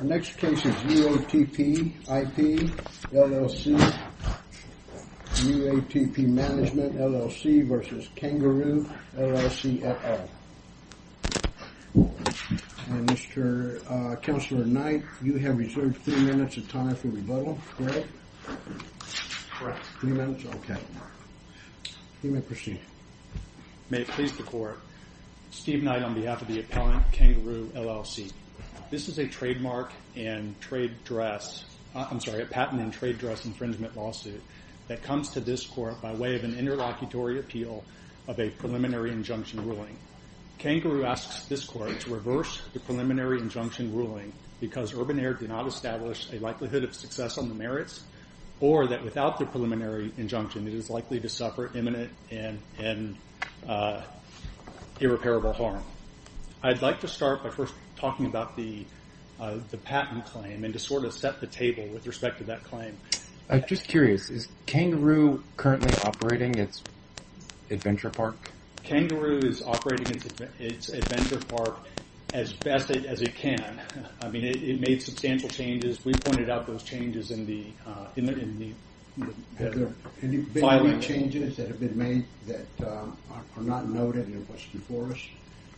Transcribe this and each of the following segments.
Our next case is UATP IP, LLC, UATP Management, LLC v. Kangaroo, LLC, et al. And Mr. Counselor Knight, you have reserved three minutes of time for rebuttal, correct? Correct. Three minutes, okay. You may proceed. May it please the Court, Steve Knight on behalf of the appellant, Kangaroo, LLC. This is a patent and trade dress infringement lawsuit that comes to this Court by way of an interlocutory appeal of a preliminary injunction ruling. Kangaroo asks this Court to reverse the preliminary injunction ruling because Urban Air did not establish a likelihood of success on the merits or that without the preliminary injunction it is likely to suffer imminent and irreparable harm. I'd like to start by first talking about the patent claim and to sort of set the table with respect to that claim. I'm just curious. Is Kangaroo currently operating its adventure park? Kangaroo is operating its adventure park as best as it can. I mean, it made substantial changes. We pointed out those changes in the filing. Have there been any changes that have been made that are not noted in the question for us?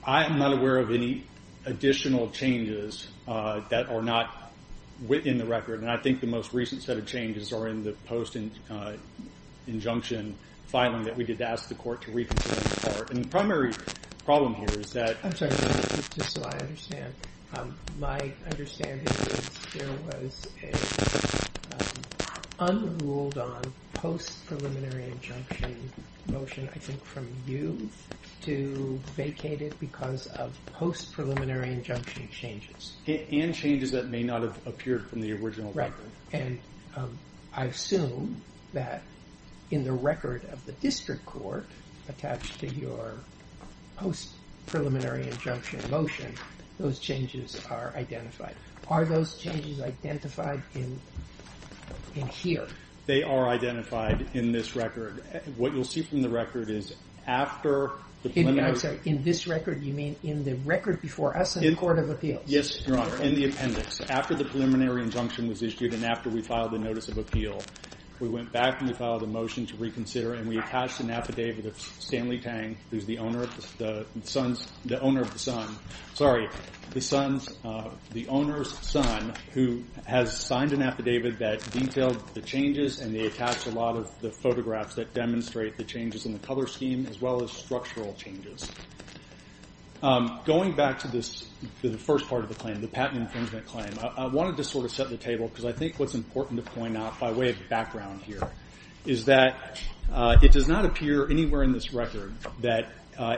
I am not aware of any additional changes that are not in the record, and I think the most recent set of changes are in the post-injunction filing that we did ask the Court to reconsider. And the primary problem here is that... I'm sorry. Just so I understand. My understanding is there was an unruled on post-preliminary injunction motion, I think from you, to vacate it because of post-preliminary injunction changes. And changes that may not have appeared from the original record. Right. And I assume that in the record of the district court attached to your post-preliminary injunction motion, those changes are identified. Are those changes identified in here? They are identified in this record. What you'll see from the record is after the preliminary... I'm sorry. In this record you mean in the record before us in the Court of Appeals? Yes, Your Honor, in the appendix. After the preliminary injunction was issued and after we filed the notice of appeal, we went back and we filed a motion to reconsider and we attached an affidavit of Stanley Tang, who's the owner of the son. Sorry, the owner's son, who has signed an affidavit that detailed the changes and they attached a lot of the photographs that demonstrate the changes in the color scheme as well as structural changes. Going back to the first part of the claim, the patent infringement claim, I wanted to sort of set the table because I think what's important to point out by way of background here is that it does not appear anywhere in this record that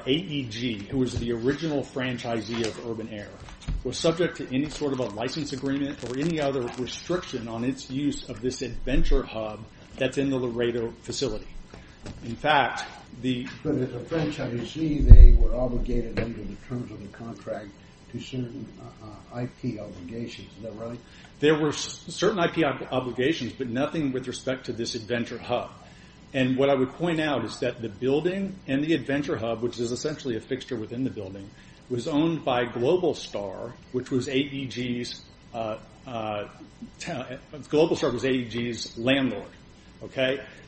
AEG, who was the original franchisee of Urban Air, was subject to any sort of a license agreement or any other restriction on its use of this Adventure Hub that's in the Laredo facility. But as a franchisee, they were obligated under the terms of the contract to certain IP obligations. Is that right? There were certain IP obligations but nothing with respect to this Adventure Hub. And what I would point out is that the building and the Adventure Hub, which is essentially a fixture within the building, was owned by Global Star, which was AEG's landlord.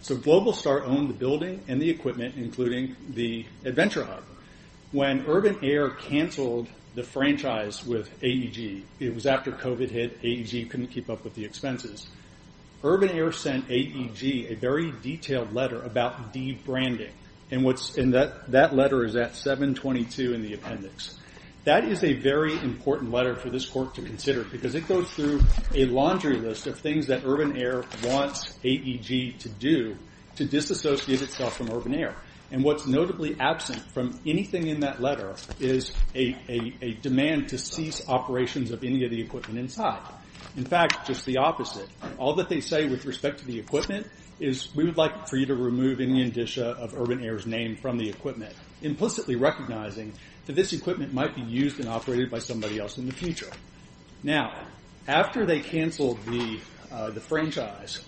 So Global Star owned the building and the equipment, including the Adventure Hub. When Urban Air canceled the franchise with AEG, it was after COVID hit. AEG couldn't keep up with the expenses. Urban Air sent AEG a very detailed letter about de-branding. That letter is at 722 in the appendix. That is a very important letter for this court to consider because it goes through a laundry list of things that Urban Air wants AEG to do to disassociate itself from Urban Air. And what's notably absent from anything in that letter is a demand to cease operations of any of the equipment inside. In fact, just the opposite. All that they say with respect to the equipment is, we would like for you to remove any indicia of Urban Air's name from the equipment, implicitly recognizing that this equipment might be used and operated by somebody else in the future. Now, after they canceled the franchise,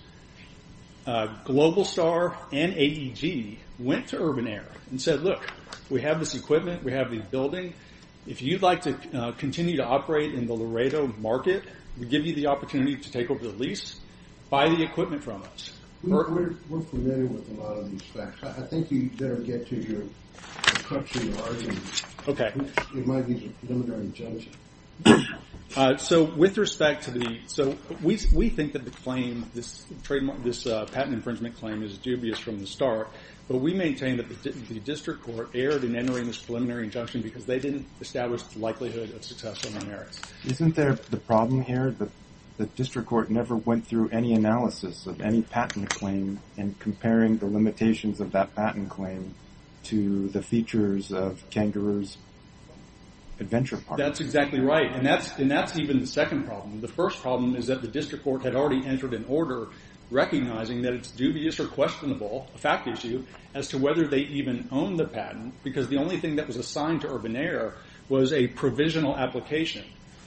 Global Star and AEG went to Urban Air and said, look, we have this equipment. We have the building. If you'd like to continue to operate in the Laredo market, we give you the opportunity to take over the lease. Buy the equipment from us. We're familiar with a lot of these facts. I think you'd better get to your cut to large. It might be a preliminary injunction. So with respect to the – so we think that the claim, this patent infringement claim is dubious from the start, but we maintain that the district court erred in entering this preliminary injunction because they didn't establish the likelihood of success on their merits. Isn't there the problem here that the district court never went through any analysis of any patent claim and comparing the limitations of that patent claim to the features of Kangaroo's adventure park? That's exactly right, and that's even the second problem. The first problem is that the district court had already entered an order recognizing that it's dubious or questionable, a fact issue, as to whether they even own the patent because the only thing that was assigned to Urban Air was a provisional application.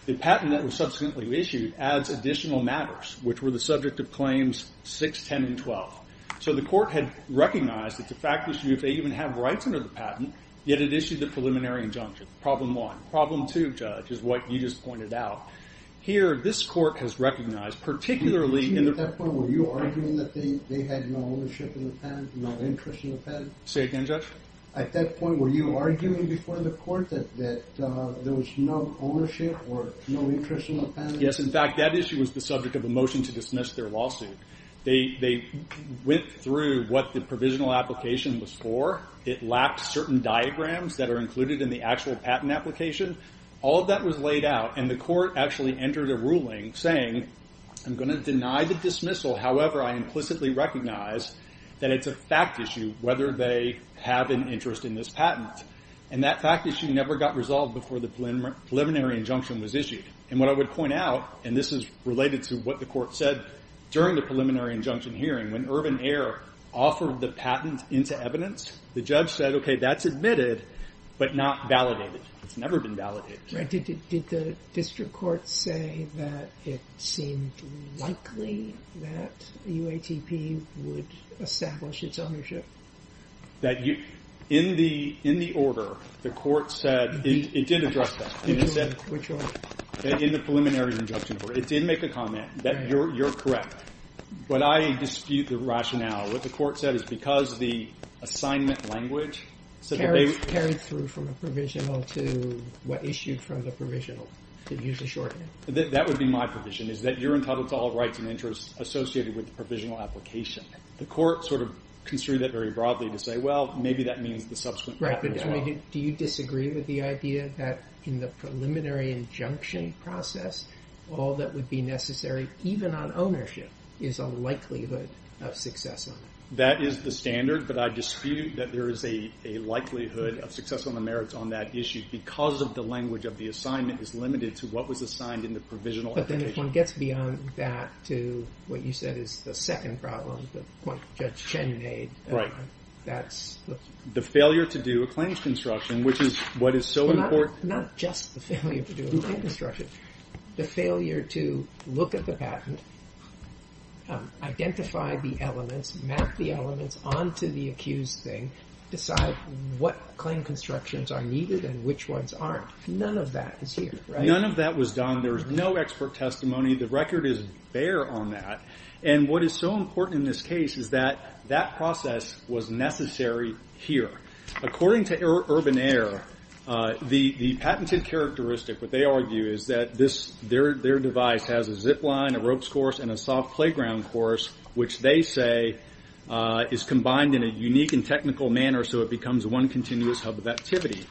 The patent that was subsequently issued adds additional matters, which were the subject of claims 6, 10, and 12. So the court had recognized it's a fact issue if they even have rights under the patent, yet it issued a preliminary injunction, problem one. Problem two, Judge, is what you just pointed out. Here, this court has recognized, particularly in the – Excuse me. At that point, were you arguing that they had no ownership in the patent, no interest in the patent? Say again, Judge? At that point, were you arguing before the court that there was no ownership or no interest in the patent? Yes, in fact, that issue was the subject of a motion to dismiss their lawsuit. They went through what the provisional application was for. It lacked certain diagrams that are included in the actual patent application. All of that was laid out, and the court actually entered a ruling saying, I'm going to deny the dismissal. However, I implicitly recognize that it's a fact issue whether they have an interest in this patent. And that fact issue never got resolved before the preliminary injunction was issued. And what I would point out, and this is related to what the court said during the preliminary injunction hearing, when Irvin Ayer offered the patent into evidence, the judge said, okay, that's admitted, but not validated. It's never been validated. Did the district court say that it seemed likely that UATP would establish its ownership? In the order, the court said – it did address that. Which one? In the preliminary injunction. It did make a comment that you're correct. But I dispute the rationale. What the court said is because the assignment language – Carried through from the provisional to what issued from the provisional. It used a shorthand. That would be my provision, is that you're entitled to all rights and interests associated with the provisional application. The court sort of construed it very broadly to say, well, maybe that means the subsequent patent as well. Do you disagree with the idea that in the preliminary injunction process, all that would be necessary, even on ownership, is a likelihood of success on it? That is the standard, but I dispute that there is a likelihood of success on the merits on that issue because of the language of the assignment is limited to what was assigned in the provisional application. But then if one gets beyond that to what you said is the second problem that Judge Chen made, that's – the failure to do a claims construction, which is what is so important – Well, not just the failure to do a claims construction. The failure to look at the patent, identify the elements, map the elements onto the accused thing, decide what claim constructions are needed and which ones aren't. None of that is here, right? None of that was done. There is no expert testimony. The record is bare on that. And what is so important in this case is that that process was necessary here. According to Urban Air, the patented characteristic, what they argue, is that their device has a zip line, a ropes course, and a soft playground course, which they say is combined in a unique and technical manner so it becomes one continuous hub of activity.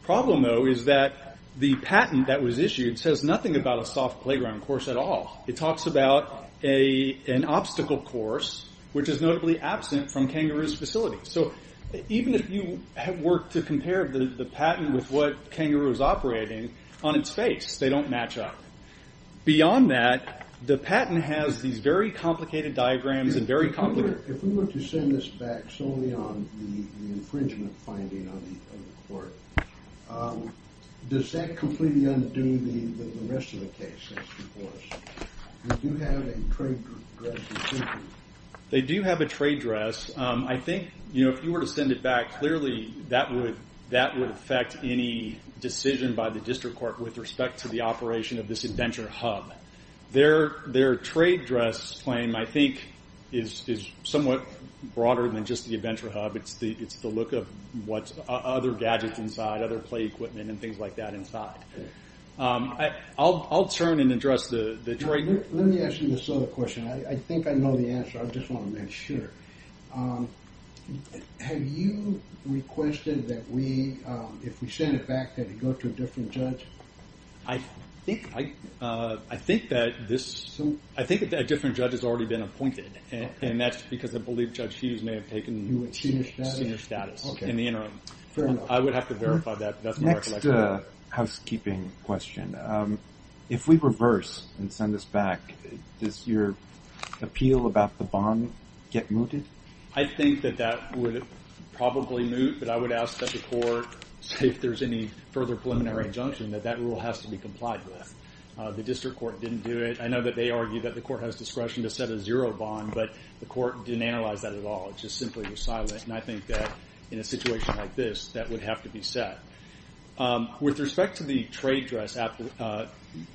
The problem, though, is that the patent that was issued says nothing about a soft playground course at all. It talks about an obstacle course, which is notably absent from Kangaroo's facility. So even if you had worked to compare the patent with what Kangaroo is operating on its face, they don't match up. Beyond that, the patent has these very complicated diagrams and very complicated – If we were to send this back solely on the infringement finding of the court, does that completely undo the rest of the case? Do you have a trade dress? They do have a trade dress. I think if you were to send it back, clearly that would affect any decision by the district court with respect to the operation of this Adventure Hub. Their trade dress claim, I think, is somewhat broader than just the Adventure Hub. It's the look of other gadgets inside, other play equipment and things like that inside. I'll turn and address the trade dress. Let me ask you this other question. I think I know the answer. I just want to make sure. Have you requested that if we send it back, that it go to a different judge? I think that a different judge has already been appointed. That's because I believe Judge Hughes may have taken senior status in the interim. Fair enough. I would have to verify that. Next housekeeping question. If we reverse and send this back, does your appeal about the bond get mooted? I think that that would probably moot, but I would ask that the court, if there's any further preliminary injunction, that that rule has to be complied with. The district court didn't do it. I know that they argue that the court has discretion to set a zero bond, but the court didn't analyze that at all. It just simply was silent. I think that in a situation like this, that would have to be set. With respect to the trade dress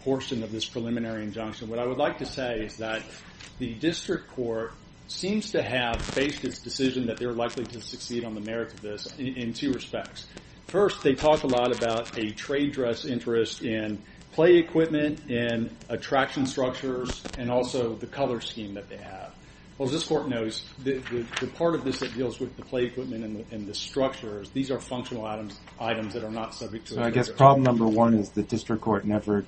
portion of this preliminary injunction, what I would like to say is that the district court seems to have faced its decision that they're likely to succeed on the merits of this in two respects. First, they talk a lot about a trade dress interest in play equipment, and attraction structures, and also the color scheme that they have. Well, as this court knows, the part of this that deals with the play equipment and the structures, these are functional items that are not subject to... I guess problem number one is the district court never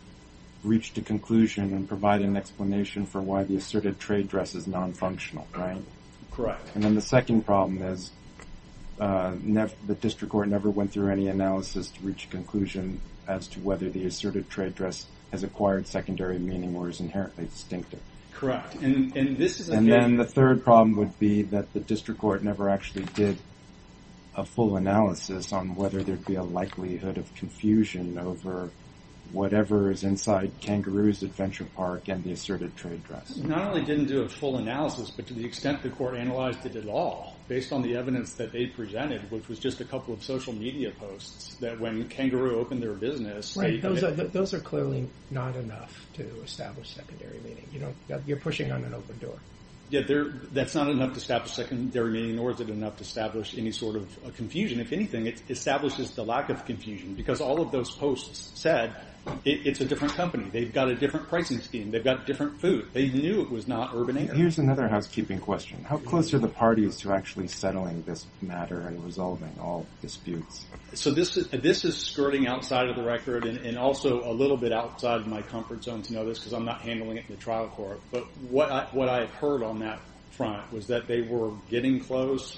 reached a conclusion and provided an explanation for why the asserted trade dress is non-functional, right? Correct. And then the second problem is the district court never went through any analysis to reach a conclusion as to whether the asserted trade dress has acquired secondary meaning or is inherently distinctive. Correct. And then the third problem would be that the district court never actually did a full analysis on whether there'd be a likelihood of confusion over whatever is inside Kangaroo's Adventure Park and the asserted trade dress. Not only didn't do a full analysis, but to the extent the court analyzed it at all, based on the evidence that they presented, which was just a couple of social media posts, that when Kangaroo opened their business... Right, those are clearly not enough to establish secondary meaning. You're pushing on an open door. Yeah, that's not enough to establish secondary meaning, nor is it enough to establish any sort of confusion. If anything, it establishes the lack of confusion because all of those posts said it's a different company, they've got a different pricing scheme, they've got different food. They knew it was not urban area. Here's another housekeeping question. How close are the parties to actually settling this matter and resolving all disputes? So this is skirting outside of the record and also a little bit outside of my comfort zone to know this because I'm not handling it in the trial court. But what I heard on that front was that they were getting close.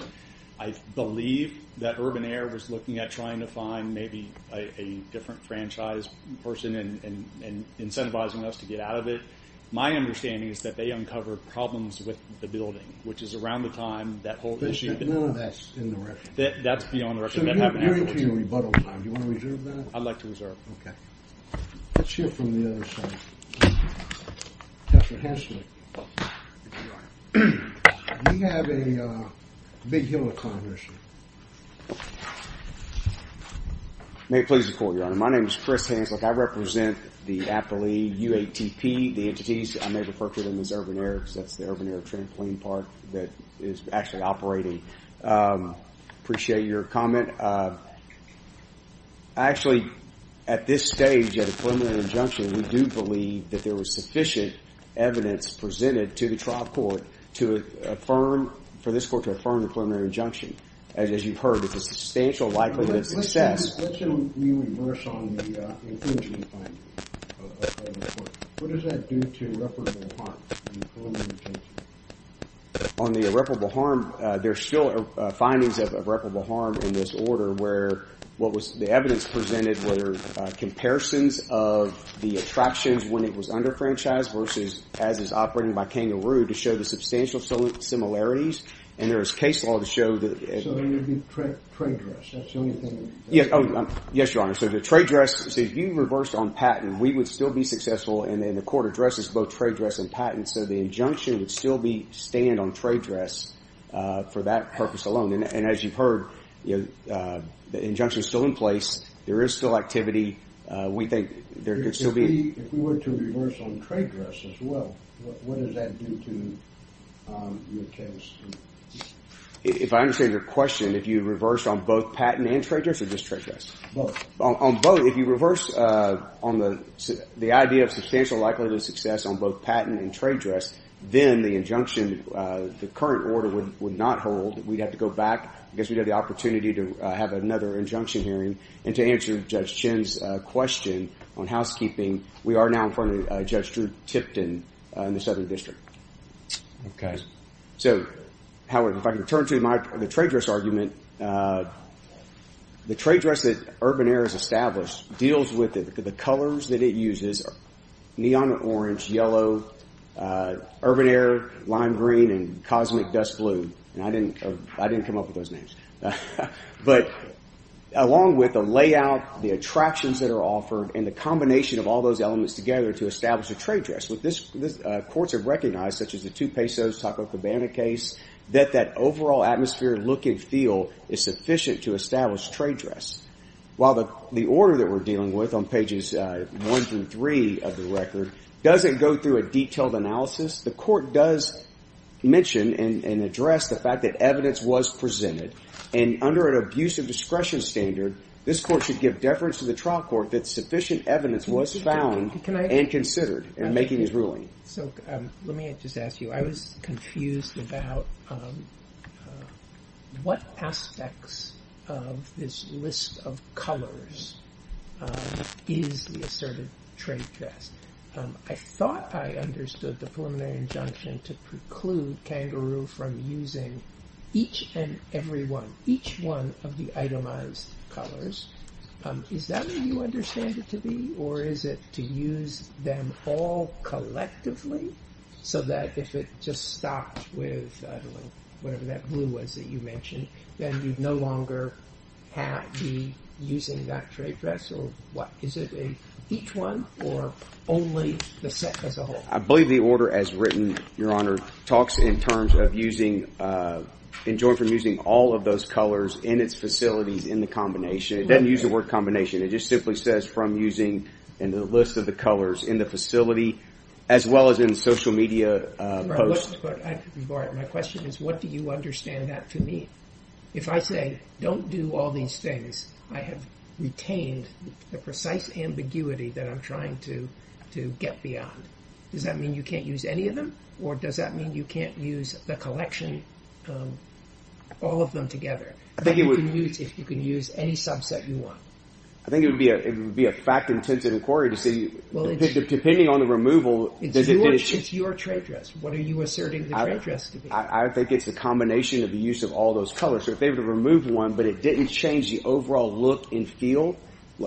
I believe that Urban Air was looking at trying to find maybe a different franchise person and incentivizing us to get out of it. My understanding is that they uncovered problems with the building, which is around the time that whole issue... That's beyond the record. That's beyond the record. So you're into your rebuttal time. Do you want to reserve that? I'd like to reserve. Okay. Let's hear from the other side. Counselor Hanslick. We have a big hill to climb issue. May it please the Court, Your Honor. My name is Chris Hanslick. I represent the appellee UATP, the entities. I may refer to them as Urban Air because that's the Urban Air Trampoline Park that is actually operating. Appreciate your comment. Actually, at this stage of the preliminary injunction, we do believe that there was sufficient evidence presented to the trial court for this court to affirm the preliminary injunction. As you've heard, it's a substantial likelihood of success. Let's reverse on the infringement finding of the court. What does that do to irreparable harm in the preliminary injunction? On the irreparable harm, there's still findings of irreparable harm in this order where what was the evidence presented were comparisons of the attractions when it was under-franchised versus as is operating by kangaroo to show the substantial similarities. And there is case law to show that... So there would be trade dress. Yes, Your Honor. So the trade dress, if you reversed on patent, we would still be successful and then the court addresses both trade dress and patent. So the injunction would still stand on trade dress for that purpose alone. And as you've heard, the injunction is still in place. There is still activity. We think there could still be... If we were to reverse on trade dress as well, what does that do to your case? If I understand your question, if you reverse on both patent and trade dress or just trade dress? Both. On both, if you reverse on the idea of substantial likelihood of success on both patent and trade dress, then the injunction, the current order, would not hold. We'd have to go back. I guess we'd have the opportunity to have another injunction hearing and to answer Judge Chin's question on housekeeping. We are now in front of Judge Drew Tipton in the Southern District. Okay. So, Howard, if I can turn to the trade dress argument, the trade dress that Urban Air has established deals with the colors that it uses, neon orange, yellow, Urban Air, lime green, and cosmic dust blue. And I didn't come up with those names. But along with the layout, the attractions that are offered, and the combination of all those elements together to establish a trade dress. Courts have recognized, such as the 2 pesos Taco Cabana case, that that overall atmosphere, look, and feel is sufficient to establish trade dress. While the order that we're dealing with on pages 1 through 3 of the record doesn't go through a detailed analysis, the court does mention and address the fact that evidence was presented. And under an abuse of discretion standard, this court should give deference to the trial court that sufficient evidence was found and considered in making this ruling. So, let me just ask you, I was confused about what aspects of this list of colors is the asserted trade dress. I thought I understood the preliminary injunction to preclude Kangaroo from using each and every one, each one of the itemized colors. Is that what you understand it to be? Or is it to use them all collectively? So that if it just stops with, I don't know, whatever that blue was that you mentioned, then you no longer have to be using that trade dress or what? Is it each one or only the set as a whole? I believe the order as written, Your Honor, talks in terms of using, enjoined from using all of those colors in its facilities in the combination. It doesn't use the word combination. It just simply says from using in the list of the colors in the facility, as well as in social media posts. My question is, what do you understand that to mean? If I say, don't do all these things, I have retained the precise ambiguity that I'm trying to get beyond. Does that mean you can't use any of them? Or does that mean you can't use the collection, all of them together? That you can use if you can use any subset you want. I think it would be a fact-intensive inquiry depending on the removal. It's your trade dress. What are you asserting the trade dress to be? I think it's the combination of the use of all those colors. If they were to remove one, but it didn't change the overall look and feel,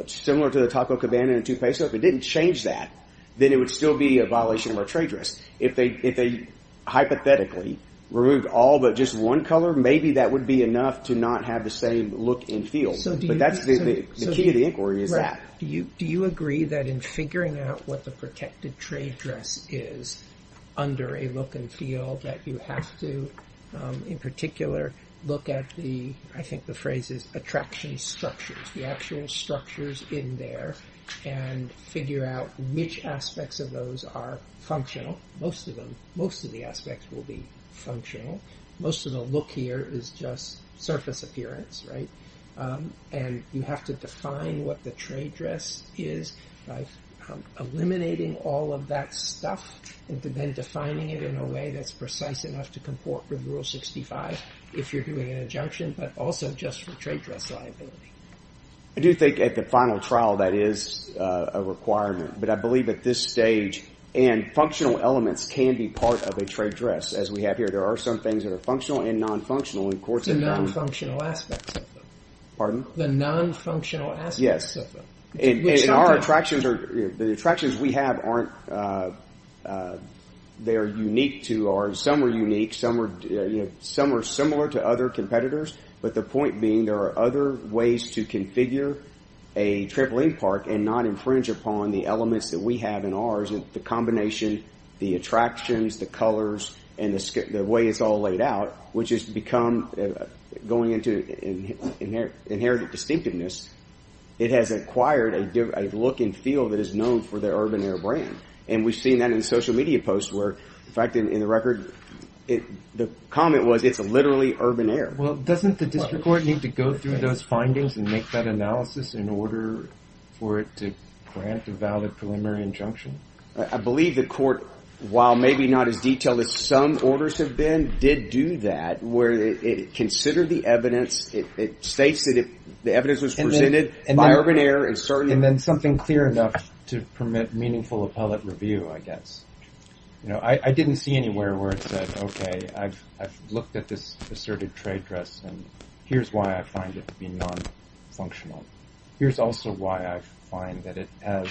similar to the Taco Cabana and the Tupezo, if it didn't change that, then it would still be a violation of our trade dress. If they hypothetically removed all but just one color, maybe that would be enough to not have the same look and feel. But that's the key to the inquiry is that. Do you agree that in figuring out what the protected trade dress is under a look and feel that you have to, in particular, look at the, I think the phrase is attraction structures, the actual structures in there, and figure out which aspects of those are functional. Most of the aspects will be functional. Most of the look here is just surface appearance. And you have to define what the trade dress is by eliminating all of that stuff and then defining it in a way that's precise enough to comport with Rule 65 if you're doing an injunction, but also just for trade dress liability. I do think at the final trial that is a requirement, but I believe at this stage, and functional elements can be part of a trade dress as we have here. There are some things that are functional and non-functional. The non-functional aspects of them. Pardon? The non-functional aspects of them. Yes, and our attractions, the attractions we have aren't, they're unique to ours. Some are unique. Some are similar to other competitors, but the point being there are other ways to configure a trampoline park and not infringe upon the elements that we have in ours and the combination, the attractions, the colors, and the way it's all laid out, which has become going into inherited distinctiveness, it has acquired a look and feel that is known for their Urban Air brand, and we've seen that in social media posts where, in fact, in the record, the comment was it's literally Urban Air. Well, doesn't the district court need to go through those findings and make that analysis in order for it to grant a valid preliminary injunction? I believe the court, while maybe not as detailed as some orders have been, did do that where it considered the evidence, it states that the evidence was presented by Urban Air and certainly... And then something clear enough to permit meaningful appellate review, I guess. I didn't see anywhere where it said, okay, I've looked at this asserted trade dress and here's why I find it to be non-functional. Here's also why I find that it has,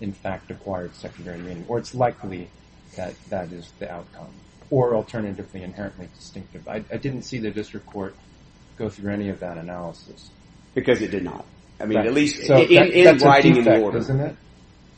in fact, acquired secondary meaning, or it's likely that that is the outcome, or alternatively inherently distinctive. I didn't see the district court go through any of that analysis. Because it did not. I mean, at least... That's a defect, isn't it?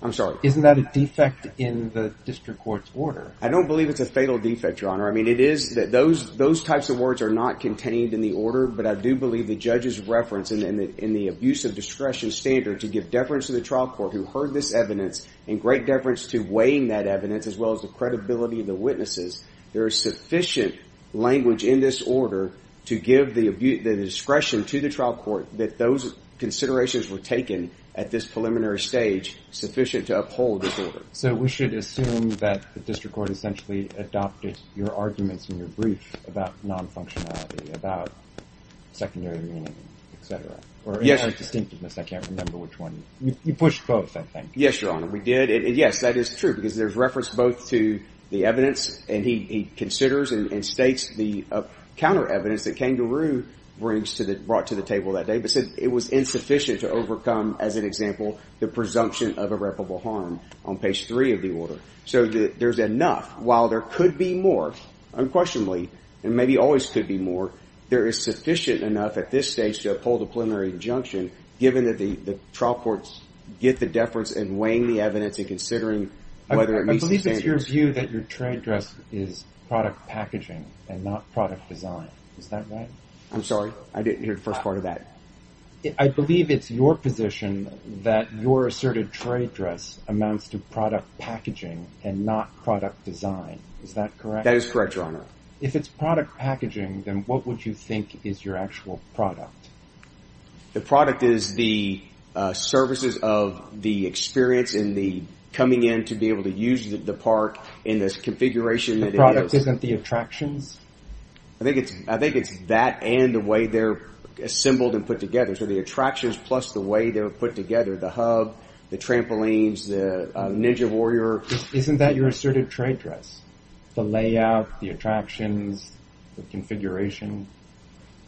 I'm sorry. Isn't that a defect in the district court's order? I don't believe it's a fatal defect, Your Honor. I mean, it is that those types of words are not contained in the order, but I do believe the judge's reference in the abuse of discretion standard to give deference to the trial court who heard this evidence and great deference to weighing that evidence as well as the credibility of the witnesses. There is sufficient language in this order to give the discretion to the trial court that those considerations were taken at this preliminary stage sufficient to uphold this order. So we should assume that the district court essentially adopted your arguments in your brief about non-functionality, about secondary meaning, etc., or inherent distinctiveness. I can't remember which one. You pushed both, I think. Yes, Your Honor, we did. Yes, that is true because there's reference both to the evidence and he considers and states the counter-evidence that Kangaroo brought to the table that day but said it was insufficient to overcome, as an example, the presumption of irreparable harm on page 3 of the order. So there's enough. While there could be more, unquestionably, and maybe always could be more, there is sufficient enough at this stage to uphold a preliminary injunction given that the trial courts get the deference in weighing the evidence and considering whether it meets the standards. I believe it's your view that your trade dress is product packaging and not product design. Is that right? I'm sorry? I didn't hear the first part of that. I believe it's your position that your asserted trade dress amounts to product packaging and not product design. Is that correct? That is correct, Your Honor. If it's product packaging, then what would you think is your actual product? The product is the services of the experience and the coming in to be able to use the park in this configuration that it is. The product isn't the attractions? I think it's that and the way they're assembled and put together. So the attractions plus the way they're put together, the hub, the trampolines, the Ninja Warrior. Isn't that your asserted trade dress? The layout, the attractions, the configuration?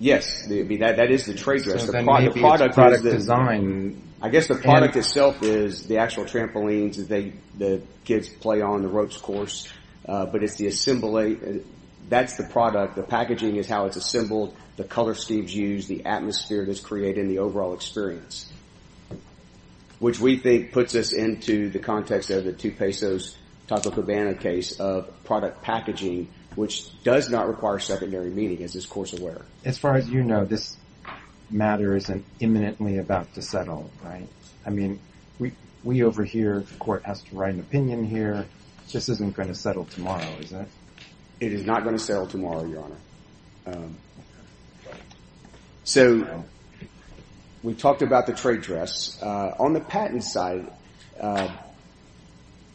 Yes, that is the trade dress. So then maybe it's product design. I guess the product itself is the actual trampolines that the kids play on the ropes course, but it's the assembly. That's the product. The packaging is how it's assembled, the color schemes used, the atmosphere that's created, and the overall experience, which we think puts us into the context of the two pesos Taco Cabana case of product packaging, which does not require secondary meaning, as is course aware. As far as you know, this matter isn't imminently about to settle, right? I mean, we over here, the court has to write an opinion here. This isn't going to settle tomorrow, is it? It is not going to settle tomorrow, Your Honor. So we talked about the trade dress. On the patent side,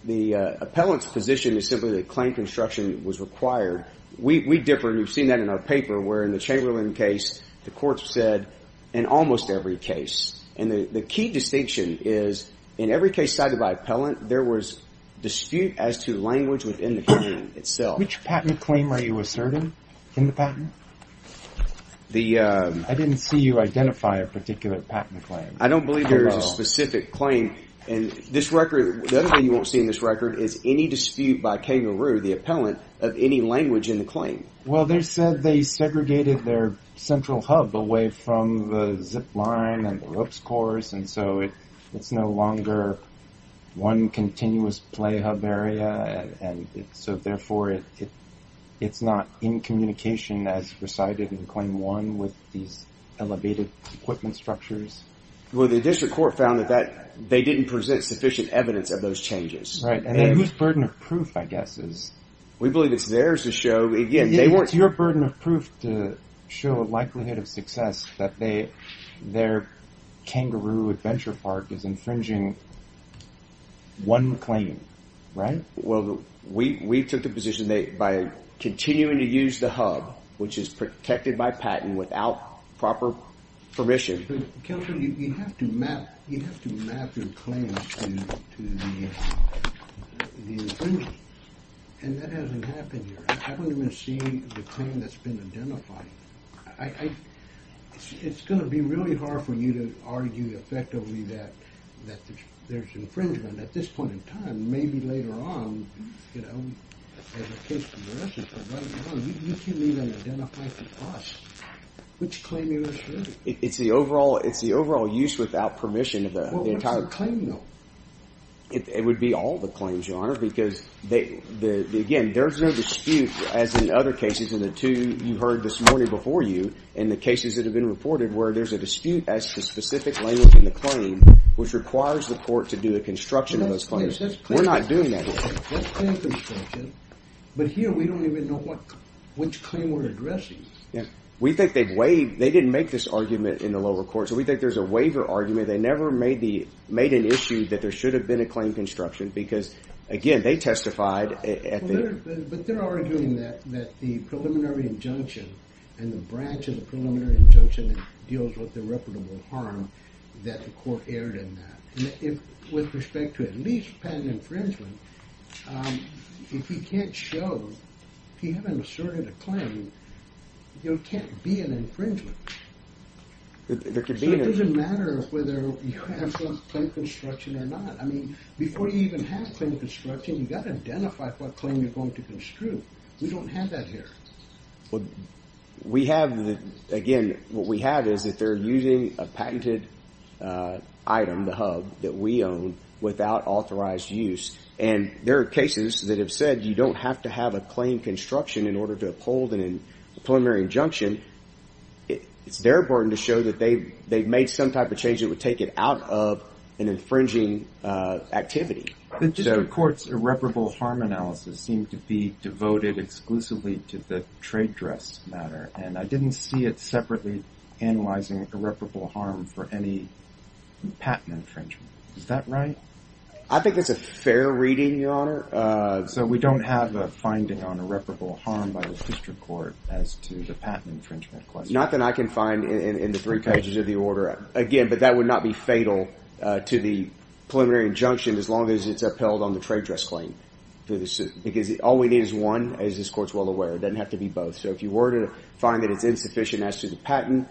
the appellant's position is simply that claim construction was required. We differ, and you've seen that in our paper, where in the Chamberlain case, the court said in almost every case, and the key distinction is in every case cited by appellant, there was dispute as to language within the claim itself. Which patent claim are you asserting in the patent? I didn't see you identify a particular patent claim. I don't believe there is a specific claim. The other thing you won't see in this record is any dispute by Kangaroo, the appellant, of any language in the claim. Well, they said they segregated their central hub away from the zip line and the ropes course, and so it's no longer one continuous play hub area, and so therefore it's not in communication as recited in Claim 1 with these elevated equipment structures. Well, the district court found that they didn't present sufficient evidence of those changes. Right, and whose burden of proof, I guess, is... We believe it's theirs to show. It's your burden of proof to show a likelihood of success that their Kangaroo Adventure Park is infringing one claim, right? Well, we took the position that by continuing to use the hub, which is protected by patent without proper permission... Counselor, you have to map your claims to the infringers, and that hasn't happened here. I haven't even seen the claim that's been identified. It's going to be really hard for you to argue effectively that there's infringement at this point in time. Maybe later on, you know, as a case progresses, but right now you can't even identify for us which claim you're referring to. It's the overall use without permission of the entire... What's the claim, though? It would be all the claims, Your Honor, because, again, there's no dispute, as in other cases, and the two you heard this morning before you and the cases that have been reported where there's a dispute as to specific language in the claim which requires the court to do a construction of those claims. We're not doing that here. But here we don't even know which claim we're addressing. We think they've waived... They didn't make this argument in the lower court, so we think there's a waiver argument. They never made an issue that there should have been a claim construction because, again, they testified at the... But they're arguing that the preliminary injunction and the branch of the preliminary injunction that deals with irreparable harm, that the court erred in that. With respect to at least patent infringement, if you can't show... If you haven't asserted a claim, there can't be an infringement. So it doesn't matter whether you have some claim construction or not. I mean, before you even have claim construction, you've got to identify what claim you're going to construe. We don't have that here. We have the... Again, what we have is that they're using a patented item, the hub, that we own without authorized use. And there are cases that have said you don't have to have a claim construction in order to uphold a preliminary injunction. It's their burden to show that they've made some type of change that would take it out of an infringing activity. The district court's irreparable harm analysis seemed to be devoted exclusively to the trade dress matter, and I didn't see it separately analyzing irreparable harm for any patent infringement. Is that right? I think that's a fair reading, Your Honor. So we don't have a finding on irreparable harm by the district court as to the patent infringement question. Not that I can find in the three pages of the order. Again, but that would not be fatal to the preliminary injunction as long as it's upheld on the trade dress claim. Because all we need is one, as this court's well aware. It doesn't have to be both. So if you were to find that it's insufficient as to the patent,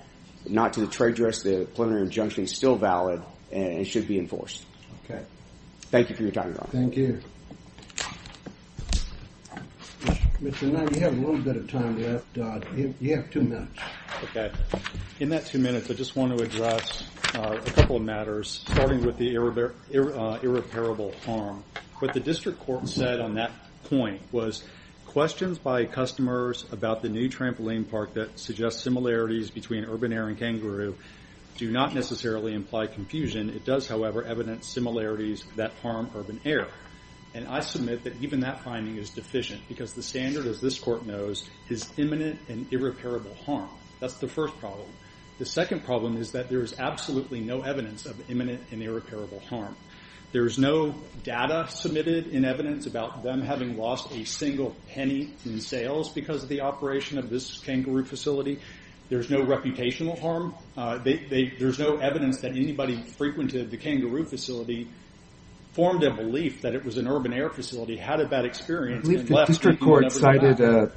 not to the trade dress, the preliminary injunction is still valid and it should be enforced. Thank you for your time, Your Honor. Thank you. Mr. Knight, you have a little bit of time left. You have two minutes. Okay. In that two minutes, I just want to address a couple of matters, starting with the irreparable harm. What the district court said on that point was questions by customers about the new trampoline park that suggests similarities between urban air and kangaroo do not necessarily imply confusion. It does, however, evidence similarities that harm urban air. And I submit that even that finding is deficient because the standard, as this court knows, is imminent and irreparable harm. That's the first problem. The second problem is that there is absolutely no evidence of imminent and irreparable harm. There is no data submitted in evidence about them having lost a single penny in sales because of the operation of this kangaroo facility. There's no reputational harm. There's no evidence that anybody who frequented the kangaroo facility formed a belief that it was an urban air facility, had a bad experience, and left... I believe the district court cited a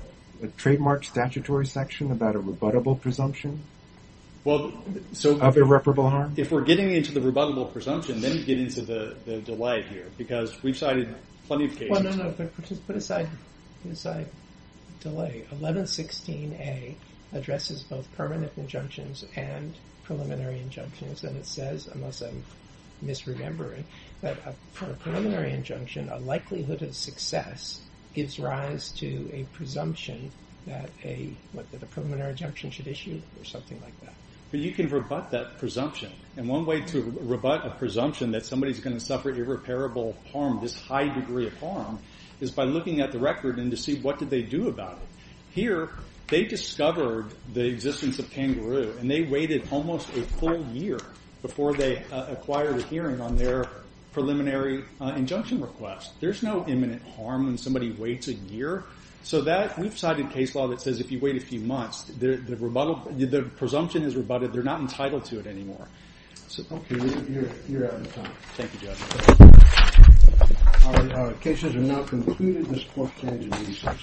trademark statutory section about a rebuttable presumption of irreparable harm. If we're getting into the rebuttable presumption, then we get into the delight here because we've cited plenty of cases. Well, no, no, but just put aside... put aside delay. 1116A addresses both permanent injunctions and preliminary injunctions, and it says, unless I'm misremembering, that for a preliminary injunction, a likelihood of success gives rise to a presumption that a preliminary injunction should issue or something like that. But you can rebut that presumption. And one way to rebut a presumption that somebody's going to suffer irreparable harm, this high degree of harm, is by looking at the record and to see what did they do about it. Here, they discovered the existence of kangaroo, and they waited almost a full year before they acquired a hearing on their preliminary injunction request. There's no imminent harm when somebody waits a year. So we've cited case law that says if you wait a few months, the presumption is rebutted. They're not entitled to it anymore. Okay, you're out of time. Thank you, Judge. Our cases are now concluded. This court stands adjourned.